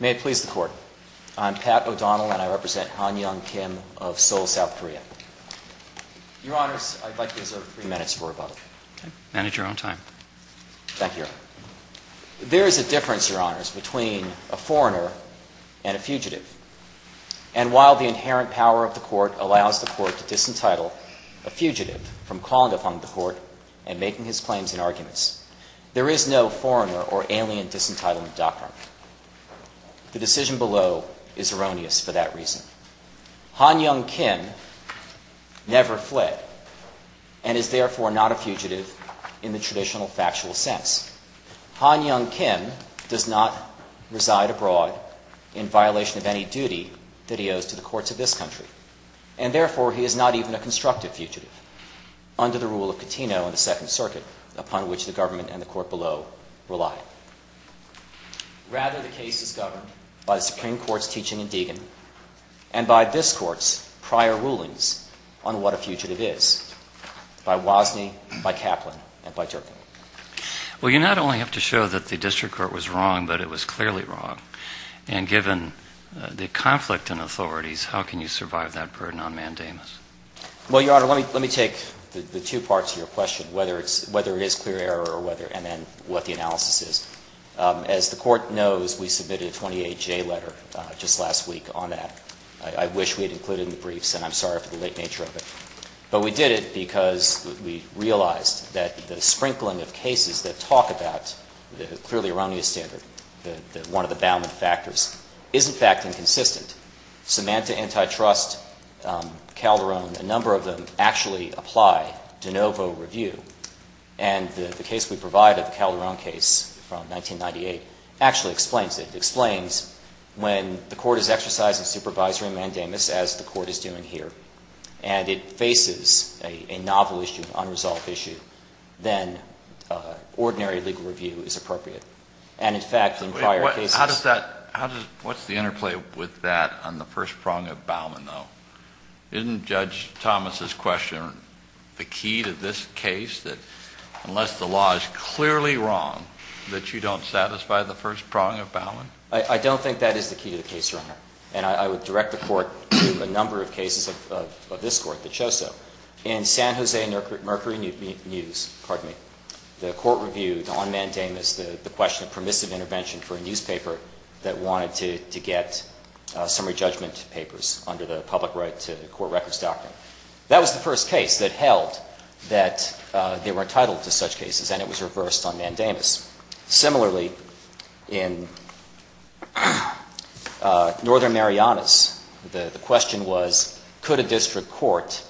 May it please the Court, I'm Pat O'Donnell and I represent Han Young Kim of Seoul, South Korea. Your Honors, I'd like to reserve three minutes for rebuttal. Manage your own time. Thank you, Your Honor. There is a difference, Your Honors, between a foreigner and a fugitive. And while the inherent power of the Court allows the Court to disentitle a fugitive from calling upon the Court and making his claims in arguments, there is no foreigner or alien disentitlement doctrine. The decision below is erroneous for that reason. Han Young Kim never fled and is therefore not a fugitive in the traditional factual sense. Han Young Kim does not reside abroad in violation of any duty that he owes to the courts of this country and therefore he is not even a constructive fugitive under the rule of law. Rather, the case is governed by the Supreme Court's teaching in Deagon and by this Court's prior rulings on what a fugitive is, by Wozniak, by Kaplan, and by Durkin. Well you not only have to show that the district court was wrong, but it was clearly wrong. And given the conflict in authorities, how can you survive that burden on mandamus? Well, Your Honor, let me take the two parts of your question, whether it is clear error or whether, and then what the analysis is. As the Court knows, we submitted a 28-J letter just last week on that. I wish we had included it in the briefs, and I'm sorry for the late nature of it. But we did it because we realized that the sprinkling of cases that talk about the clearly erroneous standard, one of the bounding factors, is in fact inconsistent. Samantha Antitrust, Calderon, a number of them actually apply de novo review. And the case we provided, the Calderon case from 1998, actually explains it. It explains when the Court is exercising supervisory mandamus, as the Court is doing here, and it faces a novel issue, an unresolved issue, then ordinary legal review is appropriate. And in fact, in prior cases — How does that — what's the interplay with that on the first prong of Bauman, though? Isn't Judge Thomas's question the key to this case, that unless the law is clearly wrong, that you don't satisfy the first prong of Bauman? I don't think that is the key to the case, Your Honor. And I would direct the Court to a number of cases of this Court that show so. In San Jose Mercury News, the court reviewed on mandamus the question of permissive intervention for a newspaper that wanted to get summary judgment papers under the Public Right to Court Records Doctrine. That was the first case that held that they were entitled to such cases, and it was reversed on mandamus. Similarly, in Northern Marianas, the question was, could a district court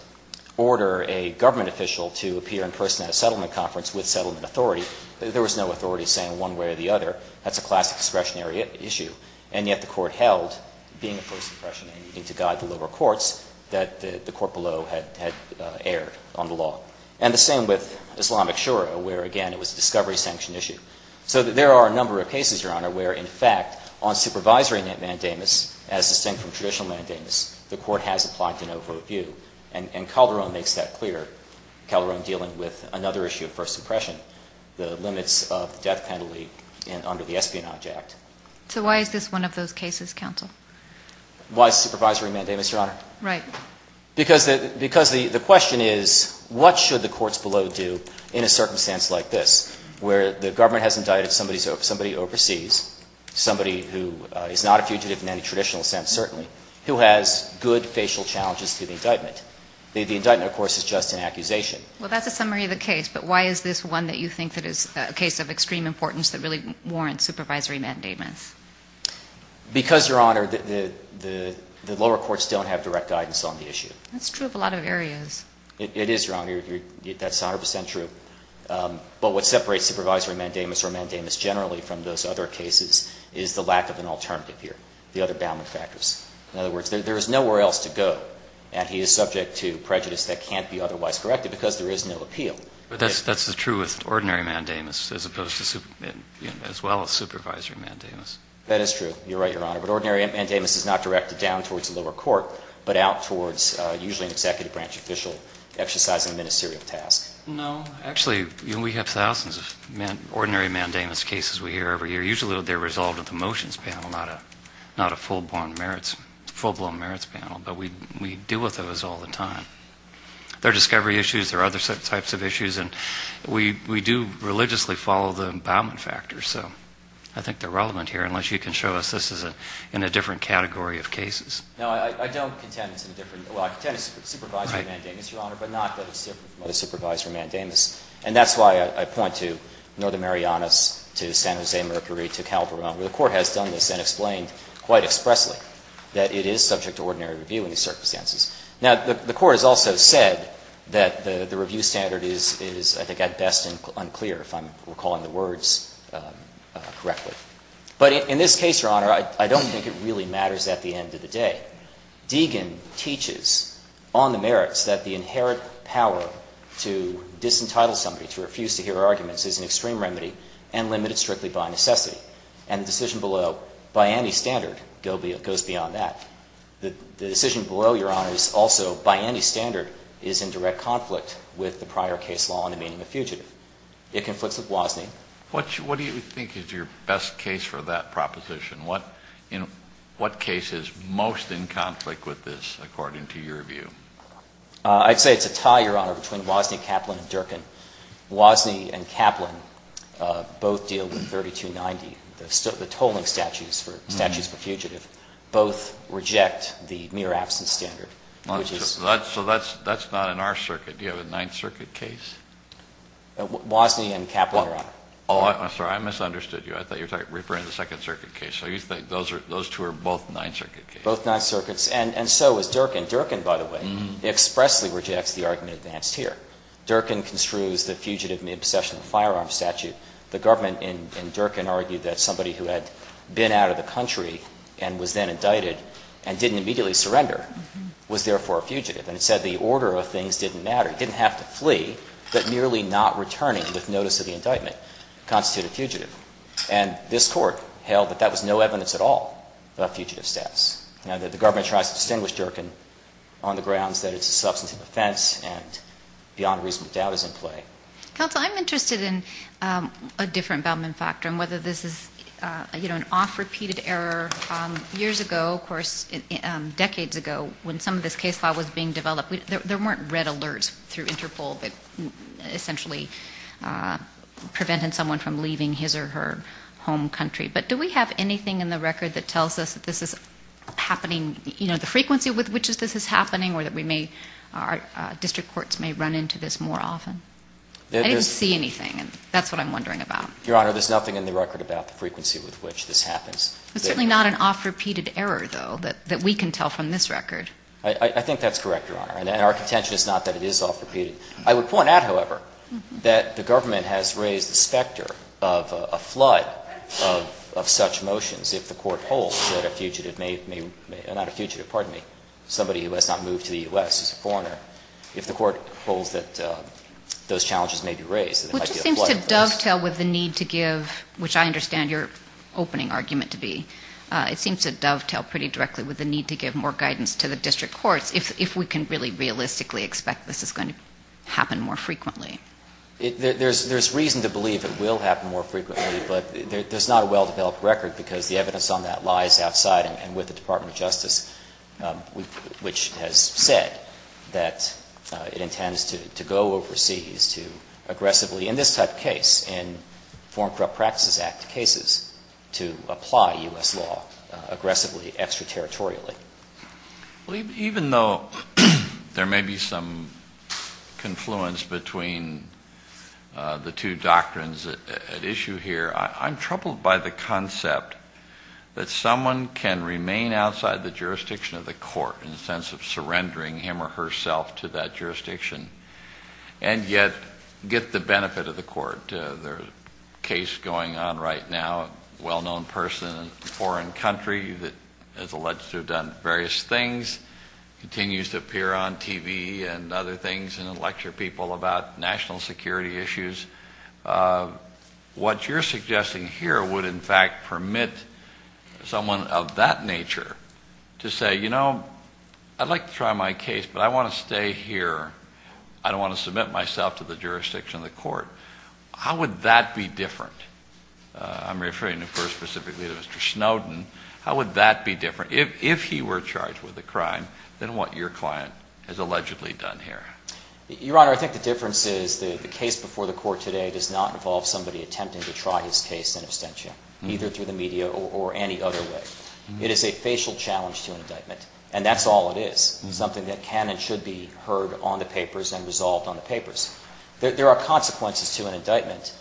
order a government official to appear in person at a settlement conference with settlement authority? There was no authority saying one way or the other. That's a classic discretionary issue. And yet the Court held, being a first impression, and you need to guide the lower courts, that the court below had erred on the law. And the same with Islamic Shura, where, again, it was a discovery sanction issue. So there are a number of cases, Your Honor, where, in fact, on supervisory mandamus, as distinct from traditional mandamus, the Court has applied to no vote view. And Calderon makes that clear, Calderon dealing with another issue of first impression, the limits of the death penalty under the Espionage Act. So why is this one of those cases, counsel? Why supervisory mandate, Mr. Honor? Right. Because the question is, what should the courts below do in a circumstance like this, where the government has indicted somebody overseas, somebody who is not a fugitive in any traditional sense, certainly, who has good facial challenges to the indictment? The indictment, of course, is just an accusation. Well, that's a summary of the case, but why is this one that you think that is a case of extreme importance that really warrants supervisory mandate? Because, Your Honor, the lower courts don't have direct guidance on the issue. That's true of a lot of areas. It is, Your Honor. That's 100 percent true. But what separates supervisory mandamus or mandamus generally from those other cases is the lack of an alternative here, the other bounding factors. In other words, there is nowhere else to go, and he is subject to prejudice that can't be otherwise corrected because there is no appeal. But that's true with ordinary mandamus as opposed to as well as supervisory mandamus. That is true. You're right, Your Honor. But ordinary mandamus is not directed down towards the lower court, but out towards usually an executive branch official exercising a ministerial task. No. Actually, we have thousands of ordinary mandamus cases we hear every year. Usually they're resolved at the motions panel, not a full-blown merits panel, but we deal with those all the time. There are discovery issues. There are other types of issues, and we do religiously follow the empowerment factors. So I think they're relevant here, unless you can show us this is in a different category of cases. No. I don't contend it's in a different. Well, I contend it's supervisory mandamus, Your Honor, but not that it's supervisory mandamus. And that's why I point to Northern Marianas, to San Jose Mercury, to Calvary Mountain. The Court has done this and explained quite expressly that it is subject to ordinary review in these circumstances. Now, the Court has also said that the review standard is, I think, at best unclear, if I'm recalling the words correctly. But in this case, Your Honor, I don't think it really matters at the end of the day. Deegan teaches on the merits that the inherent power to disentitle somebody, to refuse to hear arguments, is an extreme remedy and limited strictly by necessity. And the decision below, by any standard, goes beyond that. The decision below, Your Honor, is also, by any standard, is in direct conflict with the prior case law on the meaning of fugitive. It conflicts with Wozni. What do you think is your best case for that proposition? What case is most in conflict with this, according to your view? I'd say it's a tie, Your Honor, between Wozni, Kaplan, and Durkin. Wozni and Kaplan both deal with 3290, the tolling statutes for fugitives. Both reject the mere absence standard, which is So that's not in our circuit. Do you have a Ninth Circuit case? Wozni and Kaplan, Your Honor. Oh, I'm sorry. I misunderstood you. I thought you were referring to the Second Circuit case. So you think those two are both Ninth Circuit cases? Both Ninth Circuits. And so is Durkin. Durkin, by the way, expressly rejects the argument advanced here. Durkin construes the fugitive in the obsession of firearms statute. The government in Durkin argued that somebody who had been out of the country and was then indicted and didn't immediately surrender was therefore a fugitive. And it said the order of things didn't matter. He didn't have to flee, but merely not returning with notice of the indictment constituted a fugitive. And this court held that that was no evidence at all of fugitive stats, that the government tries to distinguish Durkin on the grounds that it's a substantive offense and beyond reasonable doubt is in play. Counsel, I'm interested in a different Baldwin factor and whether this is an off-repeated error. Years ago, of course, decades ago, when some of this case law was being developed, there weren't red alerts through Interpol that essentially prevented someone from leaving his or her home country. But do we have anything in the record that tells us that this is happening, you know, the frequency with which this is happening or that we may, our district courts may run into this more often? I didn't see anything, and that's what I'm wondering about. Your Honor, there's nothing in the record about the frequency with which this happens. It's certainly not an off-repeated error, though, that we can tell from this record. I think that's correct, Your Honor. And our contention is not that it is off-repeated. I would point out, however, that the government has raised the specter of a flood of such motions if the Court holds that a fugitive may, not a fugitive, pardon me, somebody who has not moved to the U.S. is a foreigner. If the Court holds that those challenges may be raised, there might be a flood of those. Which seems to dovetail with the need to give, which I understand your opening argument to be, it seems to dovetail pretty directly with the need to give more guidance to the district courts if we can really realistically expect this is going to happen more frequently. There's reason to believe it will happen more frequently, but there's not a well-developed record because the evidence on that lies outside and with the Department of Justice, which has said that it intends to go overseas to aggressively, in this type of case, in Foreign Corrupt Practices Act cases, to apply U.S. law aggressively, extraterritorially. Even though there may be some confluence between the two doctrines at issue here, I'm troubled by the concept that someone can remain outside the jurisdiction of the Court in the sense of surrendering him or herself to that jurisdiction and yet get the benefit of the Court. There's a case going on right now, a well-known person in a foreign country that is alleged to have done various things, continues to appear on TV and other things and lecture people about national security issues. What you're suggesting here would, in fact, permit someone of that nature to say, you know, I'd like to try my case, but I want to stay here. I don't want to submit myself to the jurisdiction of the Court. How would that be different? I'm referring, of course, specifically to Mr. Snowden. How would that be different, if he were charged with a crime, than what your client has allegedly done here? Your Honor, I think the difference is the case before the Court today does not involve somebody attempting to try his case in absentia, either through the media or any other way. It is a facial challenge to an indictment, and that's all it is, something that can and should be heard on the papers and resolved on the papers. There are consequences to an indictment,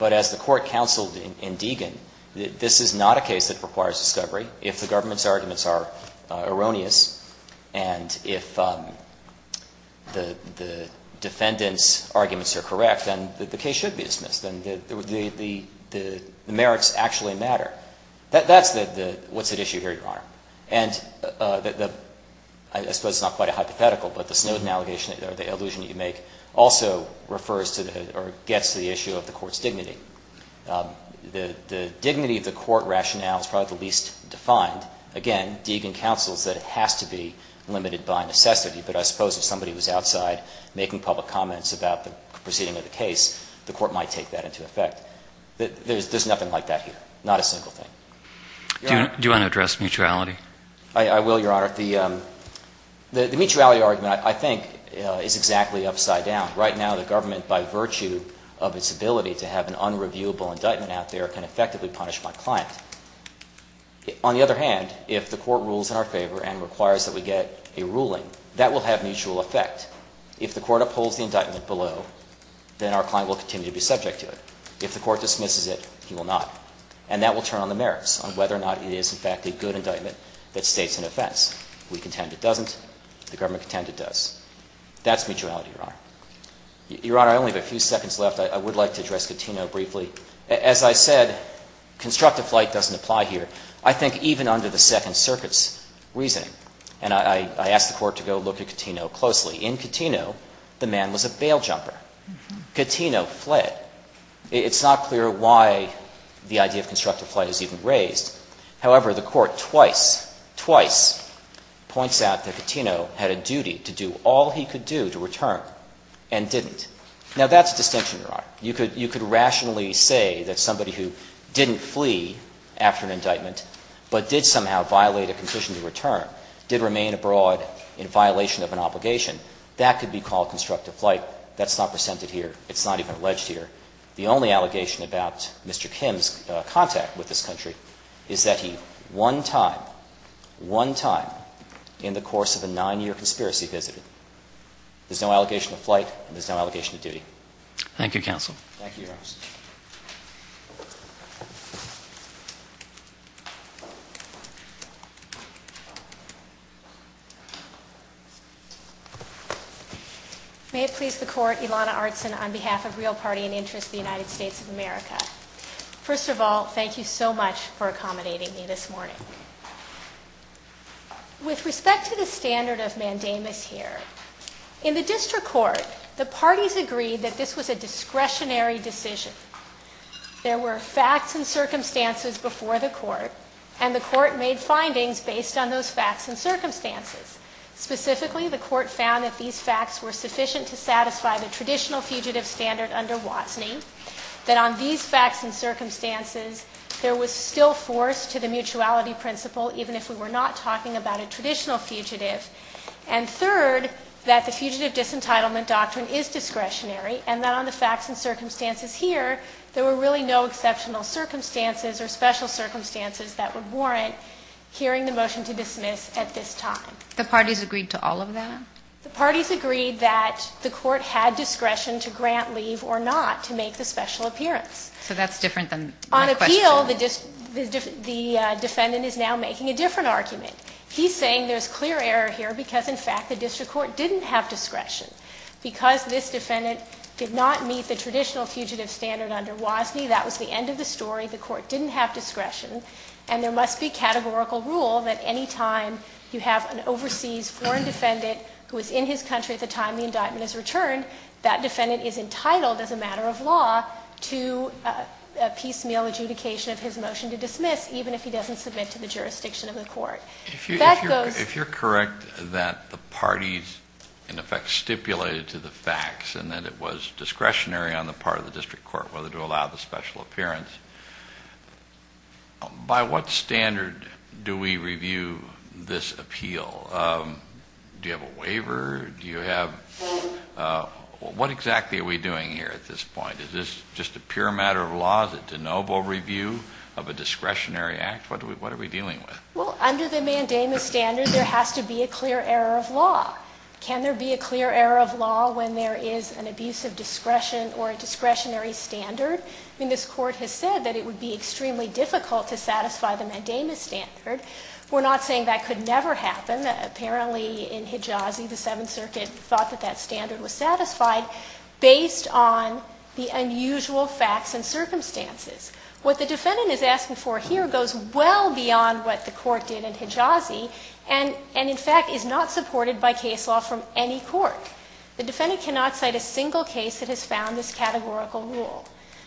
but as the Court counseled in Deegan, this is not a case that requires discovery. If the government's arguments are erroneous and if the defendant's arguments are correct, then the case should be dismissed, and the merits actually matter. That's what's at issue here, Your Honor. And I suppose it's not quite a hypothetical, but the Snowden allegation or the allusion that you make also refers to or gets to the issue of the Court's dignity. The dignity of the Court rationale is probably the least defined. Again, Deegan counsels that it has to be limited by necessity, but I suppose if somebody was outside making public comments about the proceeding of the case, the Court might take that into effect. There's nothing like that here, not a single thing. Your Honor. Do you want to address mutuality? I will, Your Honor. The mutuality argument, I think, is exactly upside down. Right now, the government, by virtue of its ability to have an unreviewable indictment out there, can effectively punish my client. On the other hand, if the Court rules in our favor and requires that we get a ruling, that will have mutual effect. If the Court upholds the indictment below, then our client will continue to be subject to it. If the Court dismisses it, he will not, and that will turn on the merits on whether or not it is, in fact, a good indictment that states an offense. We contend it doesn't, the government contend it does. That's mutuality, Your Honor. Your Honor, I only have a few seconds left. I would like to address Cattino briefly. As I said, constructive flight doesn't apply here. I think even under the Second Circuit's reasoning, and I ask the Court to go look at Cattino closely, in Cattino, the man was a bail jumper. Cattino fled. It's not clear why the idea of constructive flight is even raised. However, the Court twice, twice points out that Cattino had a duty to do all he could do to return and didn't. Now, that's a distinction, Your Honor. You could rationally say that somebody who didn't flee after an indictment but did somehow violate a condition to return, did remain abroad in violation of an obligation, that could be called constructive flight. That's not presented here. It's not even alleged here. The only allegation about Mr. Kim's contact with this country is that he one time, one time, in the course of a nine-year conspiracy visited. There's no allegation of flight and there's no allegation of duty. Thank you, counsel. Thank you, Your Honor. May it please the Court, Ilana Artson on behalf of Real Party and Interest of the United States of America. First of all, thank you so much for accommodating me this morning. With respect to the standard of mandamus here, in the District Court, the parties agreed that this was a discretionary decision. There were facts and circumstances before the Court and the Court made findings based on those facts and circumstances. Specifically, the Court found that these facts were sufficient to satisfy the traditional fugitive standard under Watson. Then on these facts and circumstances, there was still force to the mutuality principle even if we were not talking about a traditional fugitive. And third, that the fugitive disentitlement doctrine is discretionary and that on the facts and circumstances here, there were really no exceptional circumstances or special circumstances that would warrant hearing the motion to dismiss at this time. The parties agreed to all of that? The parties agreed that the Court had discretion to grant leave or not to make the special appearance. So that's different than my question. On appeal, the defendant is now making a different argument. He's saying there's clear error here because, in fact, the District Court didn't have discretion. Because this defendant did not meet the traditional fugitive standard under Wasney, that was the end of the story. The Court didn't have discretion. And there must be categorical rule that any time you have an overseas foreign defendant who was in his country at the time the indictment is returned, that defendant is entitled as a matter of law to a piecemeal adjudication of his motion to dismiss even if he doesn't submit to the jurisdiction of the Court. That goes to the Court. It was stipulated to the facts and that it was discretionary on the part of the District Court whether to allow the special appearance. By what standard do we review this appeal? Do you have a waiver? Do you have? What exactly are we doing here at this point? Is this just a pure matter of law? Is it de novo review of a discretionary act? What are we dealing with? Well, under the mandamus standard, there has to be a clear error of law. Can there be a clear error of law when there is an abuse of discretion or a discretionary standard? I mean, this Court has said that it would be extremely difficult to satisfy the mandamus standard. We're not saying that could never happen. Apparently, in Hejazi, the Seventh Circuit thought that that standard was satisfied based on the unusual facts and circumstances. What the defendant is asking for here goes well beyond what the Court did in Hejazi and, in fact, is not supported by case law from any court. The defendant cannot cite a single case that has found this categorical rule.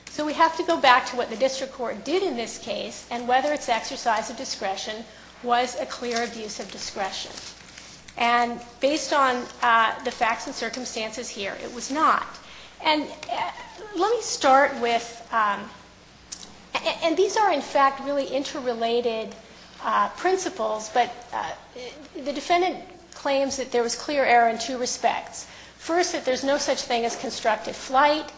So we have to go back to what the District Court did in this case and whether its exercise of discretion was a clear abuse of discretion. And based on the facts and circumstances here, it was not. And let me start with, and these are, in fact, really interrelated principles, but the defendant claims that there was clear error in two respects. First, that there's no such thing as constructive flight,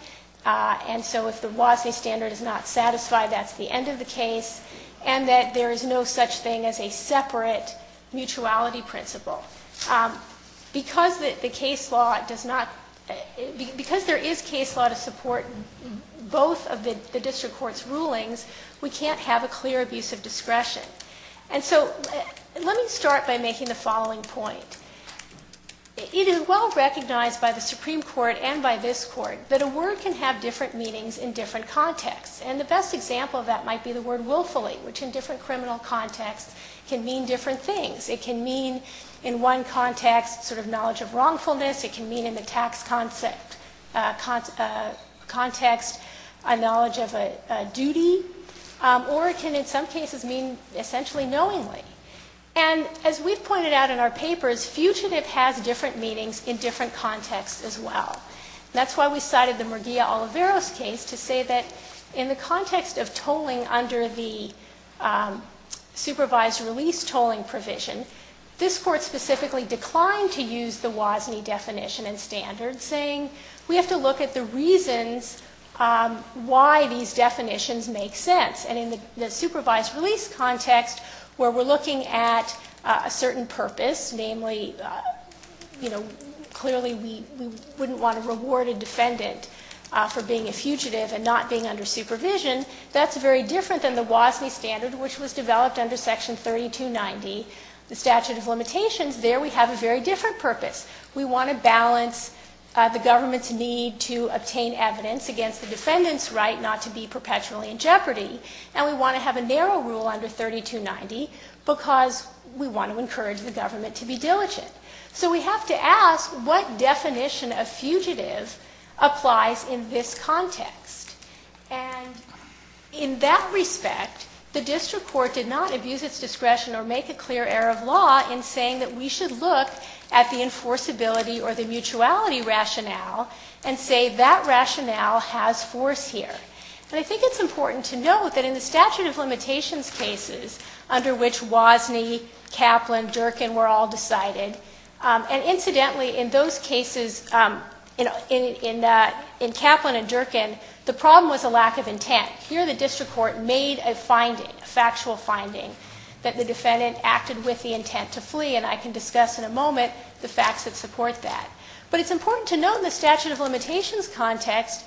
and so if the WASNE standard is not satisfied, that's the end of the case, and that there is no such thing as a separate mutuality principle. Because the case law does not, because there is case law to support both of the District Court's rulings, we can't have a clear abuse of discretion. And so let me start by making the following point. It is well recognized by the Supreme Court and by this Court that a word can have different meanings in different contexts. And the best example of that might be the word willfully, which in different criminal contexts can mean different things. It can mean in one context sort of knowledge of wrongfulness. It can mean in the tax context a knowledge of a duty. Or it can, in some cases, mean essentially knowingly. And as we've pointed out in our papers, fugitive has different meanings in different contexts as well. That's why we cited the Murguia-Oliveros case to say that in the context of tolling under the supervised release tolling provision, this Court specifically declined to use the WASNE definition and standards, saying we have to look at the reasons why these definitions make sense. And in the supervised release context where we're looking at a certain purpose, namely, you know, clearly we wouldn't want to reward a defendant for being a fugitive and not being under supervision, that's very different than the WASNE standard, which was developed under Section 3290, the statute of limitations. There we have a very different purpose. We want to balance the government's need to obtain evidence against the defendant's right not to be perpetually in jeopardy, and we want to have a narrow rule under 3290 because we want to encourage the government to be diligent. So we have to ask what definition of fugitive applies in this context. And in that respect, the District Court did not abuse its discretion or make a clear error of law in saying that we should look at the enforceability or the mutuality rationale and say that rationale has force here. And I think it's important to note that in the statute of limitations cases under which WASNE, Kaplan, Durkin were all decided, and incidentally in those cases, in Kaplan and Durkin, the problem was a lack of intent. Here the District Court made a finding, a factual finding that the defendant acted with the intent to flee, and I can discuss in a moment the facts that support that. But it's important to note in the statute of limitations context,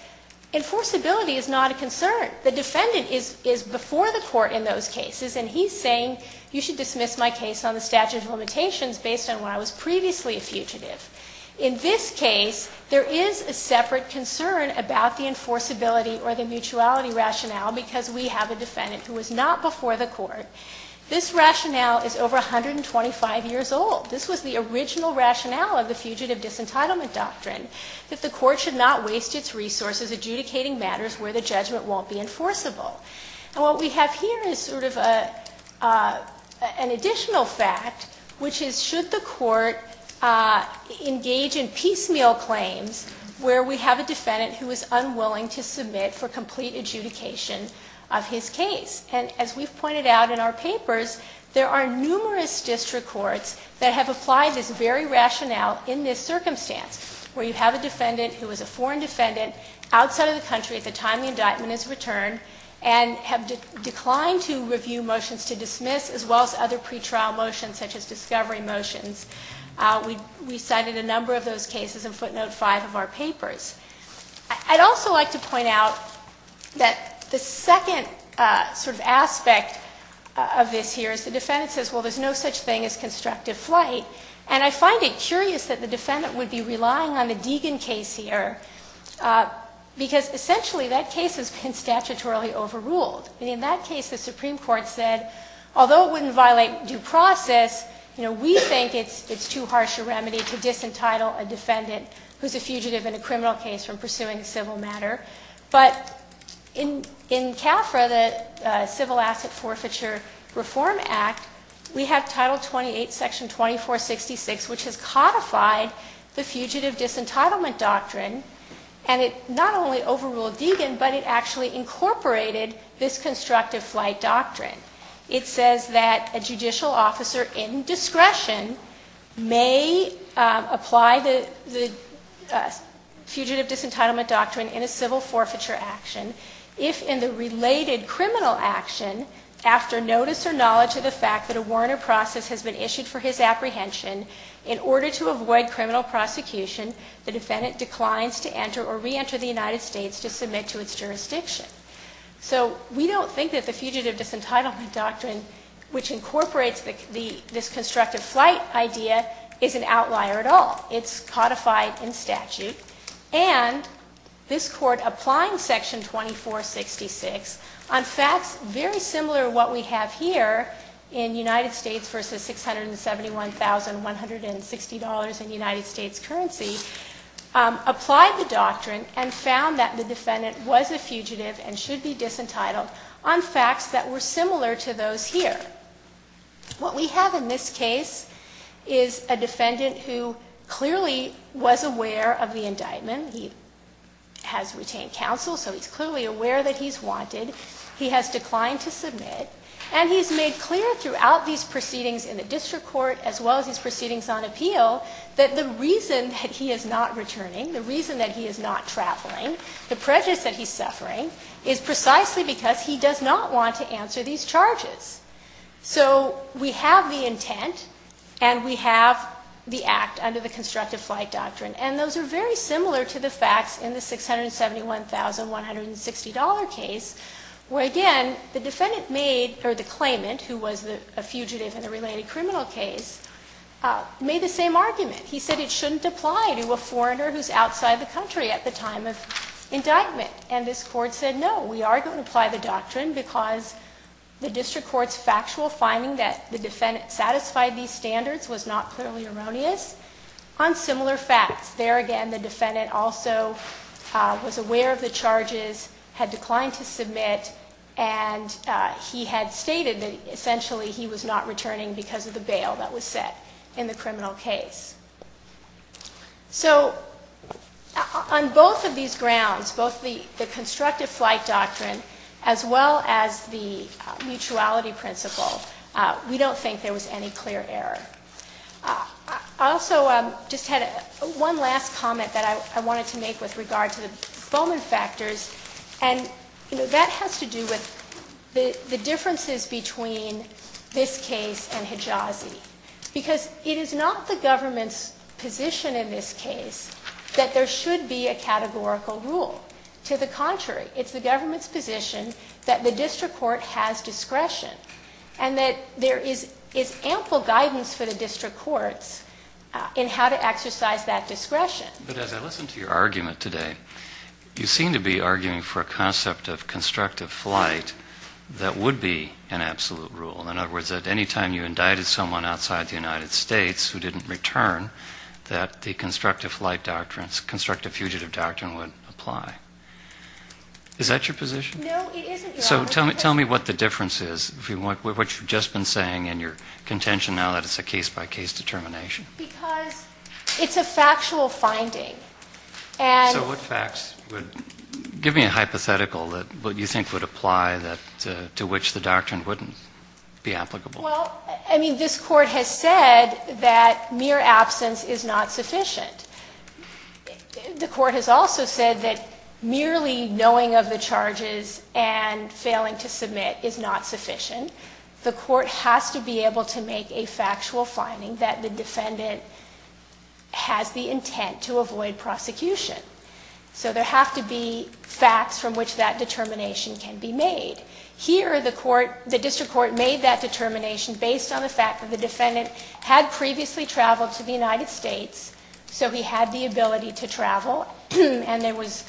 enforceability is not a concern. The defendant is before the court in those cases, and he's saying you should dismiss my case on the statute of limitations based on when I was previously a fugitive. In this case, there is a separate concern about the enforceability or the mutuality rationale because we have a defendant who was not before the court. This rationale is over 125 years old. This was the original rationale of the Fugitive Disentitlement Doctrine, that the court should not waste its resources adjudicating matters where the judgment won't be enforceable. And what we have here is sort of an additional fact, which is should the court engage in piecemeal claims where we have a defendant who is unwilling to submit for complete adjudication of his case? And as we've pointed out in our papers, there are numerous district courts that have applied this very rationale in this circumstance, where you have a defendant who is a foreign defendant outside of the country at the time the indictment is returned and have declined to review motions to dismiss as well as other pretrial motions such as discovery motions. We cited a number of those cases in footnote five of our papers. I'd also like to point out that the second sort of aspect of this here is the defendant says, well, there's no such thing as constructive flight. And I find it curious that the defendant would be relying on the Deegan case here because essentially that case has been statutorily overruled. In that case, the Supreme Court said, although it wouldn't violate due process, you know, we think it's too harsh a remedy to disentitle a defendant who's a fugitive in a criminal case from pursuing a civil matter. But in CAFRA, the Civil Asset Forfeiture Reform Act, we have title 28, section 2466, which has codified the fugitive disentitlement doctrine. And it not only overruled Deegan, but it actually incorporated this constructive flight doctrine. It says that a judicial officer in discretion may apply the fugitive disentitlement doctrine in a civil forfeiture action if in the related criminal action after notice or knowledge of the fact that a warrant or process has been issued for his apprehension in order to avoid criminal prosecution, the defendant declines to enter or reenter the United States to submit to its jurisdiction. So we don't think that the fugitive disentitlement doctrine, which incorporates this constructive flight idea, is an outlier at all. It's codified in statute. And this Court, applying section 2466, on facts very similar to what we have here in United States versus $671,160 in United States currency, applied the doctrine and found that the defendant was a fugitive and should be disentitled on facts that were similar to those here. What we have in this case is a defendant who clearly was aware of the indictment. He has retained counsel, so he's clearly aware that he's wanted. He has declined to submit. And he's made clear throughout these proceedings in the district court, as well as these proceedings on appeal, that the reason that he is not returning, the reason that he is not traveling, the prejudice that he's suffering is precisely because he does not want to answer these charges. So we have the intent and we have the act under the constructive flight doctrine. And those are very similar to the facts in the $671,160 case where, again, the defendant made or the claimant, who was a fugitive in a related criminal case, made the same argument. He said it shouldn't apply to a foreigner who's outside the country at the time of indictment. And this court said, no, we are going to apply the doctrine because the district court's factual finding that the defendant satisfied these standards was not clearly erroneous. On similar facts, there again, the defendant also was aware of the charges, had declined to submit, and he had stated that essentially he was not returning because of the bail that was set in the criminal case. So on both of these grounds, both the constructive flight doctrine as well as the mutuality principle, we don't think there was any clear error. I also just had one last comment that I wanted to make with regard to the Bowman factors. And, you know, that has to do with the differences between this case and Hijazi. Because it is not the government's position in this case that there should be a categorical rule. To the contrary, it's the government's position that the district court has discretion and that there is ample guidance for the district courts in how to exercise that discretion. But as I listened to your argument today, you seem to be arguing for a concept of constructive flight that would be an absolute rule. In other words, that any time you indicted someone outside the United States who didn't return, that the constructive flight doctrines, constructive fugitive doctrine would apply. Is that your position? No, it isn't, Your Honor. So tell me what the difference is, what you've just been saying in your contention now that it's a case-by-case determination. Because it's a factual finding. And... So what facts would... Give me a hypothetical that what you think would apply that to which the doctrine wouldn't. Be applicable. Well, I mean, this court has said that mere absence is not sufficient. The court has also said that merely knowing of the charges and failing to submit is not sufficient. The court has to be able to make a factual finding that the defendant has the intent to avoid prosecution. So there have to be facts from which that determination can be made. Here, the court, the district court made that determination based on the fact that the defendant had previously traveled to the United States, so he had the ability to travel, and there was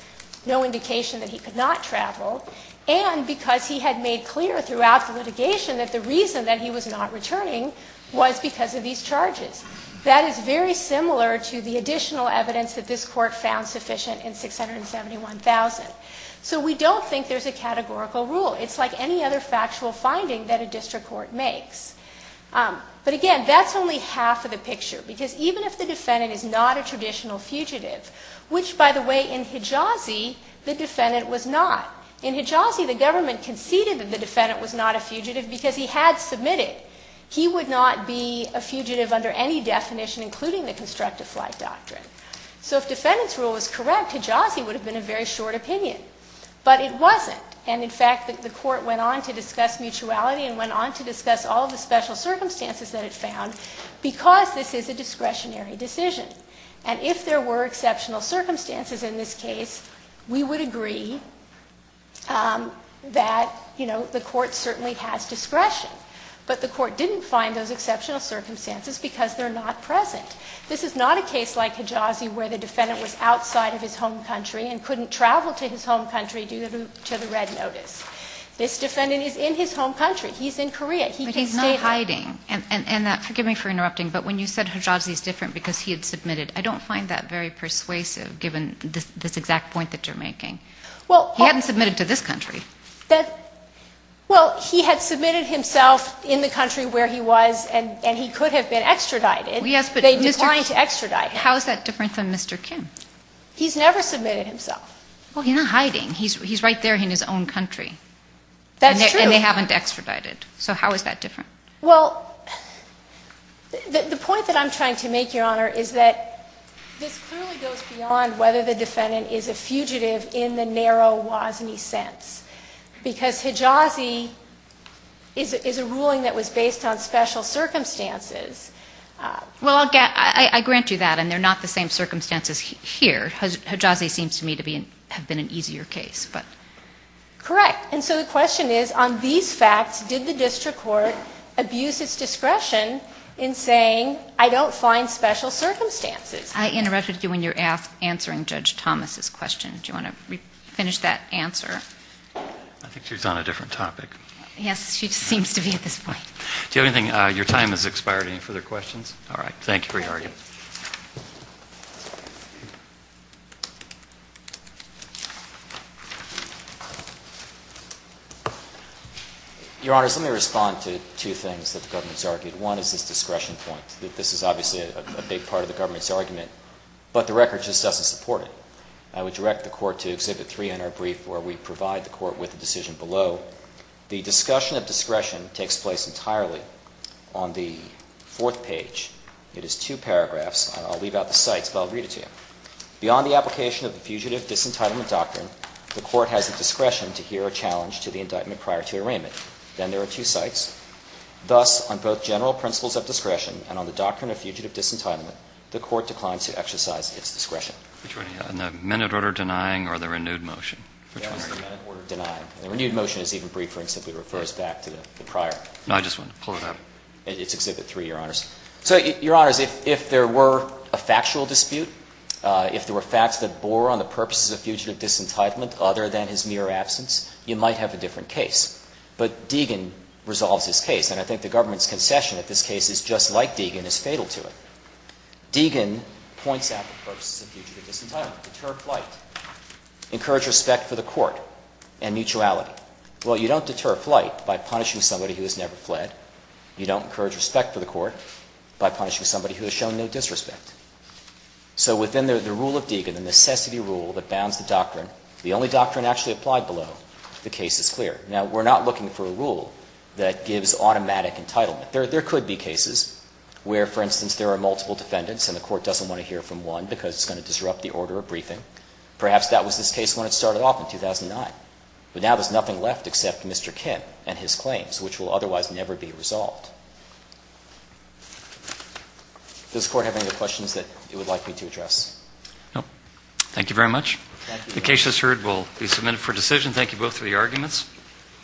no indication that he could not travel. And because he had made clear throughout the litigation that the reason that he was not returning was because of these charges. That is very similar to the additional evidence that this court found sufficient in 671,000. So we don't think there's a categorical rule. It's like any other factual finding that a district court makes. But again, that's only half of the picture, because even if the defendant is not a traditional fugitive, which, by the way, in Hijazi, the defendant was not. In Hijazi, the government conceded that the defendant was not a fugitive because he had submitted. He would not be a fugitive under any definition, including the constructive flight doctrine. So if defendant's rule is correct, Hijazi would have been a very short opinion. But it wasn't. And in fact, the court went on to discuss mutuality and went on to discuss all of the special circumstances that it found, because this is a discretionary decision. And if there were exceptional circumstances in this case, we would agree that, you know, the court certainly has discretion. But the court didn't find those exceptional circumstances because they're not present. This is not a case like Hijazi where the defendant was outside of his home country and couldn't travel to his home country due to the red notice. This defendant is in his home country. He's in Korea. He can stay there. But he's not hiding. And that, forgive me for interrupting, but when you said Hijazi is different because he had submitted, I don't find that very persuasive, given this exact point that you're making. Well, he hadn't submitted to this country. That, well, he had submitted himself in the country where he was and he could have been extradited. Yes, but. They declined to extradite him. How is that different from Mr. Kim? He's never submitted himself. Well, he's not hiding. He's right there in his own country. That's true. And they haven't extradited. So how is that different? Well, the point that I'm trying to make, Your Honor, is that this clearly goes beyond whether the defendant is a fugitive in the narrow WASNI sense because Hijazi is a ruling that was based on special circumstances. Well, I'll get, I grant you that. And they're not the same circumstances here. Hijazi seems to me to be, have been an easier case, but. Correct. And so the question is, on these facts, did the district court abuse its discretion in saying I don't find special circumstances? I interrupted you when you're answering Judge Thomas's question. Do you want to finish that answer? I think she was on a different topic. Yes, she just seems to be at this point. Do you have anything, your time has expired. Any further questions? All right. Thank you for your argument. Your Honor, let me respond to two things that the government has argued. One is this discretion point. This is obviously a big part of the government's argument, but the record just doesn't support it. I would direct the court to Exhibit 3 in our brief where we provide the court with a decision below. The discussion of discretion takes place entirely on the fourth page. It is two paragraphs. I'll leave out the cites, but I'll read it to you. Beyond the application of the fugitive disentitlement doctrine, the court has the discretion to hear a challenge to the indictment prior to arraignment. Then there are two cites. Thus, on both general principles of discretion and on the doctrine of fugitive disentitlement, the court declines to exercise its discretion. Which one are you on, the minute order denying or the renewed motion? Which one are you on? The minute order denying. The renewed motion is even briefer and simply refers back to the prior. No, I just wanted to pull it up. It's Exhibit 3, your Honors. So, your Honors, if there were a factual dispute, if there were facts that bore on the purposes of fugitive disentitlement other than his mere absence, you might have a different case. But Deegan resolves this case. And I think the government's concession at this case is just like Deegan, is fatal to it. Deegan points out the purposes of fugitive disentitlement, deter flight, encourage respect for the court, and mutuality. Well, you don't deter flight by punishing somebody who has never fled. You don't encourage respect for the court. By punishing somebody who has shown no disrespect. So, within the rule of Deegan, the necessity rule that bounds the doctrine, the only doctrine actually applied below, the case is clear. Now, we're not looking for a rule that gives automatic entitlement. There could be cases where, for instance, there are multiple defendants and the court doesn't want to hear from one because it's going to disrupt the order of briefing. Perhaps that was this case when it started off in 2009. But now there's nothing left except Mr. Kim and his claims, which will otherwise never be resolved. Does the court have any other questions that it would like me to address? No. Thank you very much. The case, as heard, will be submitted for decision. Thank you both for your arguments.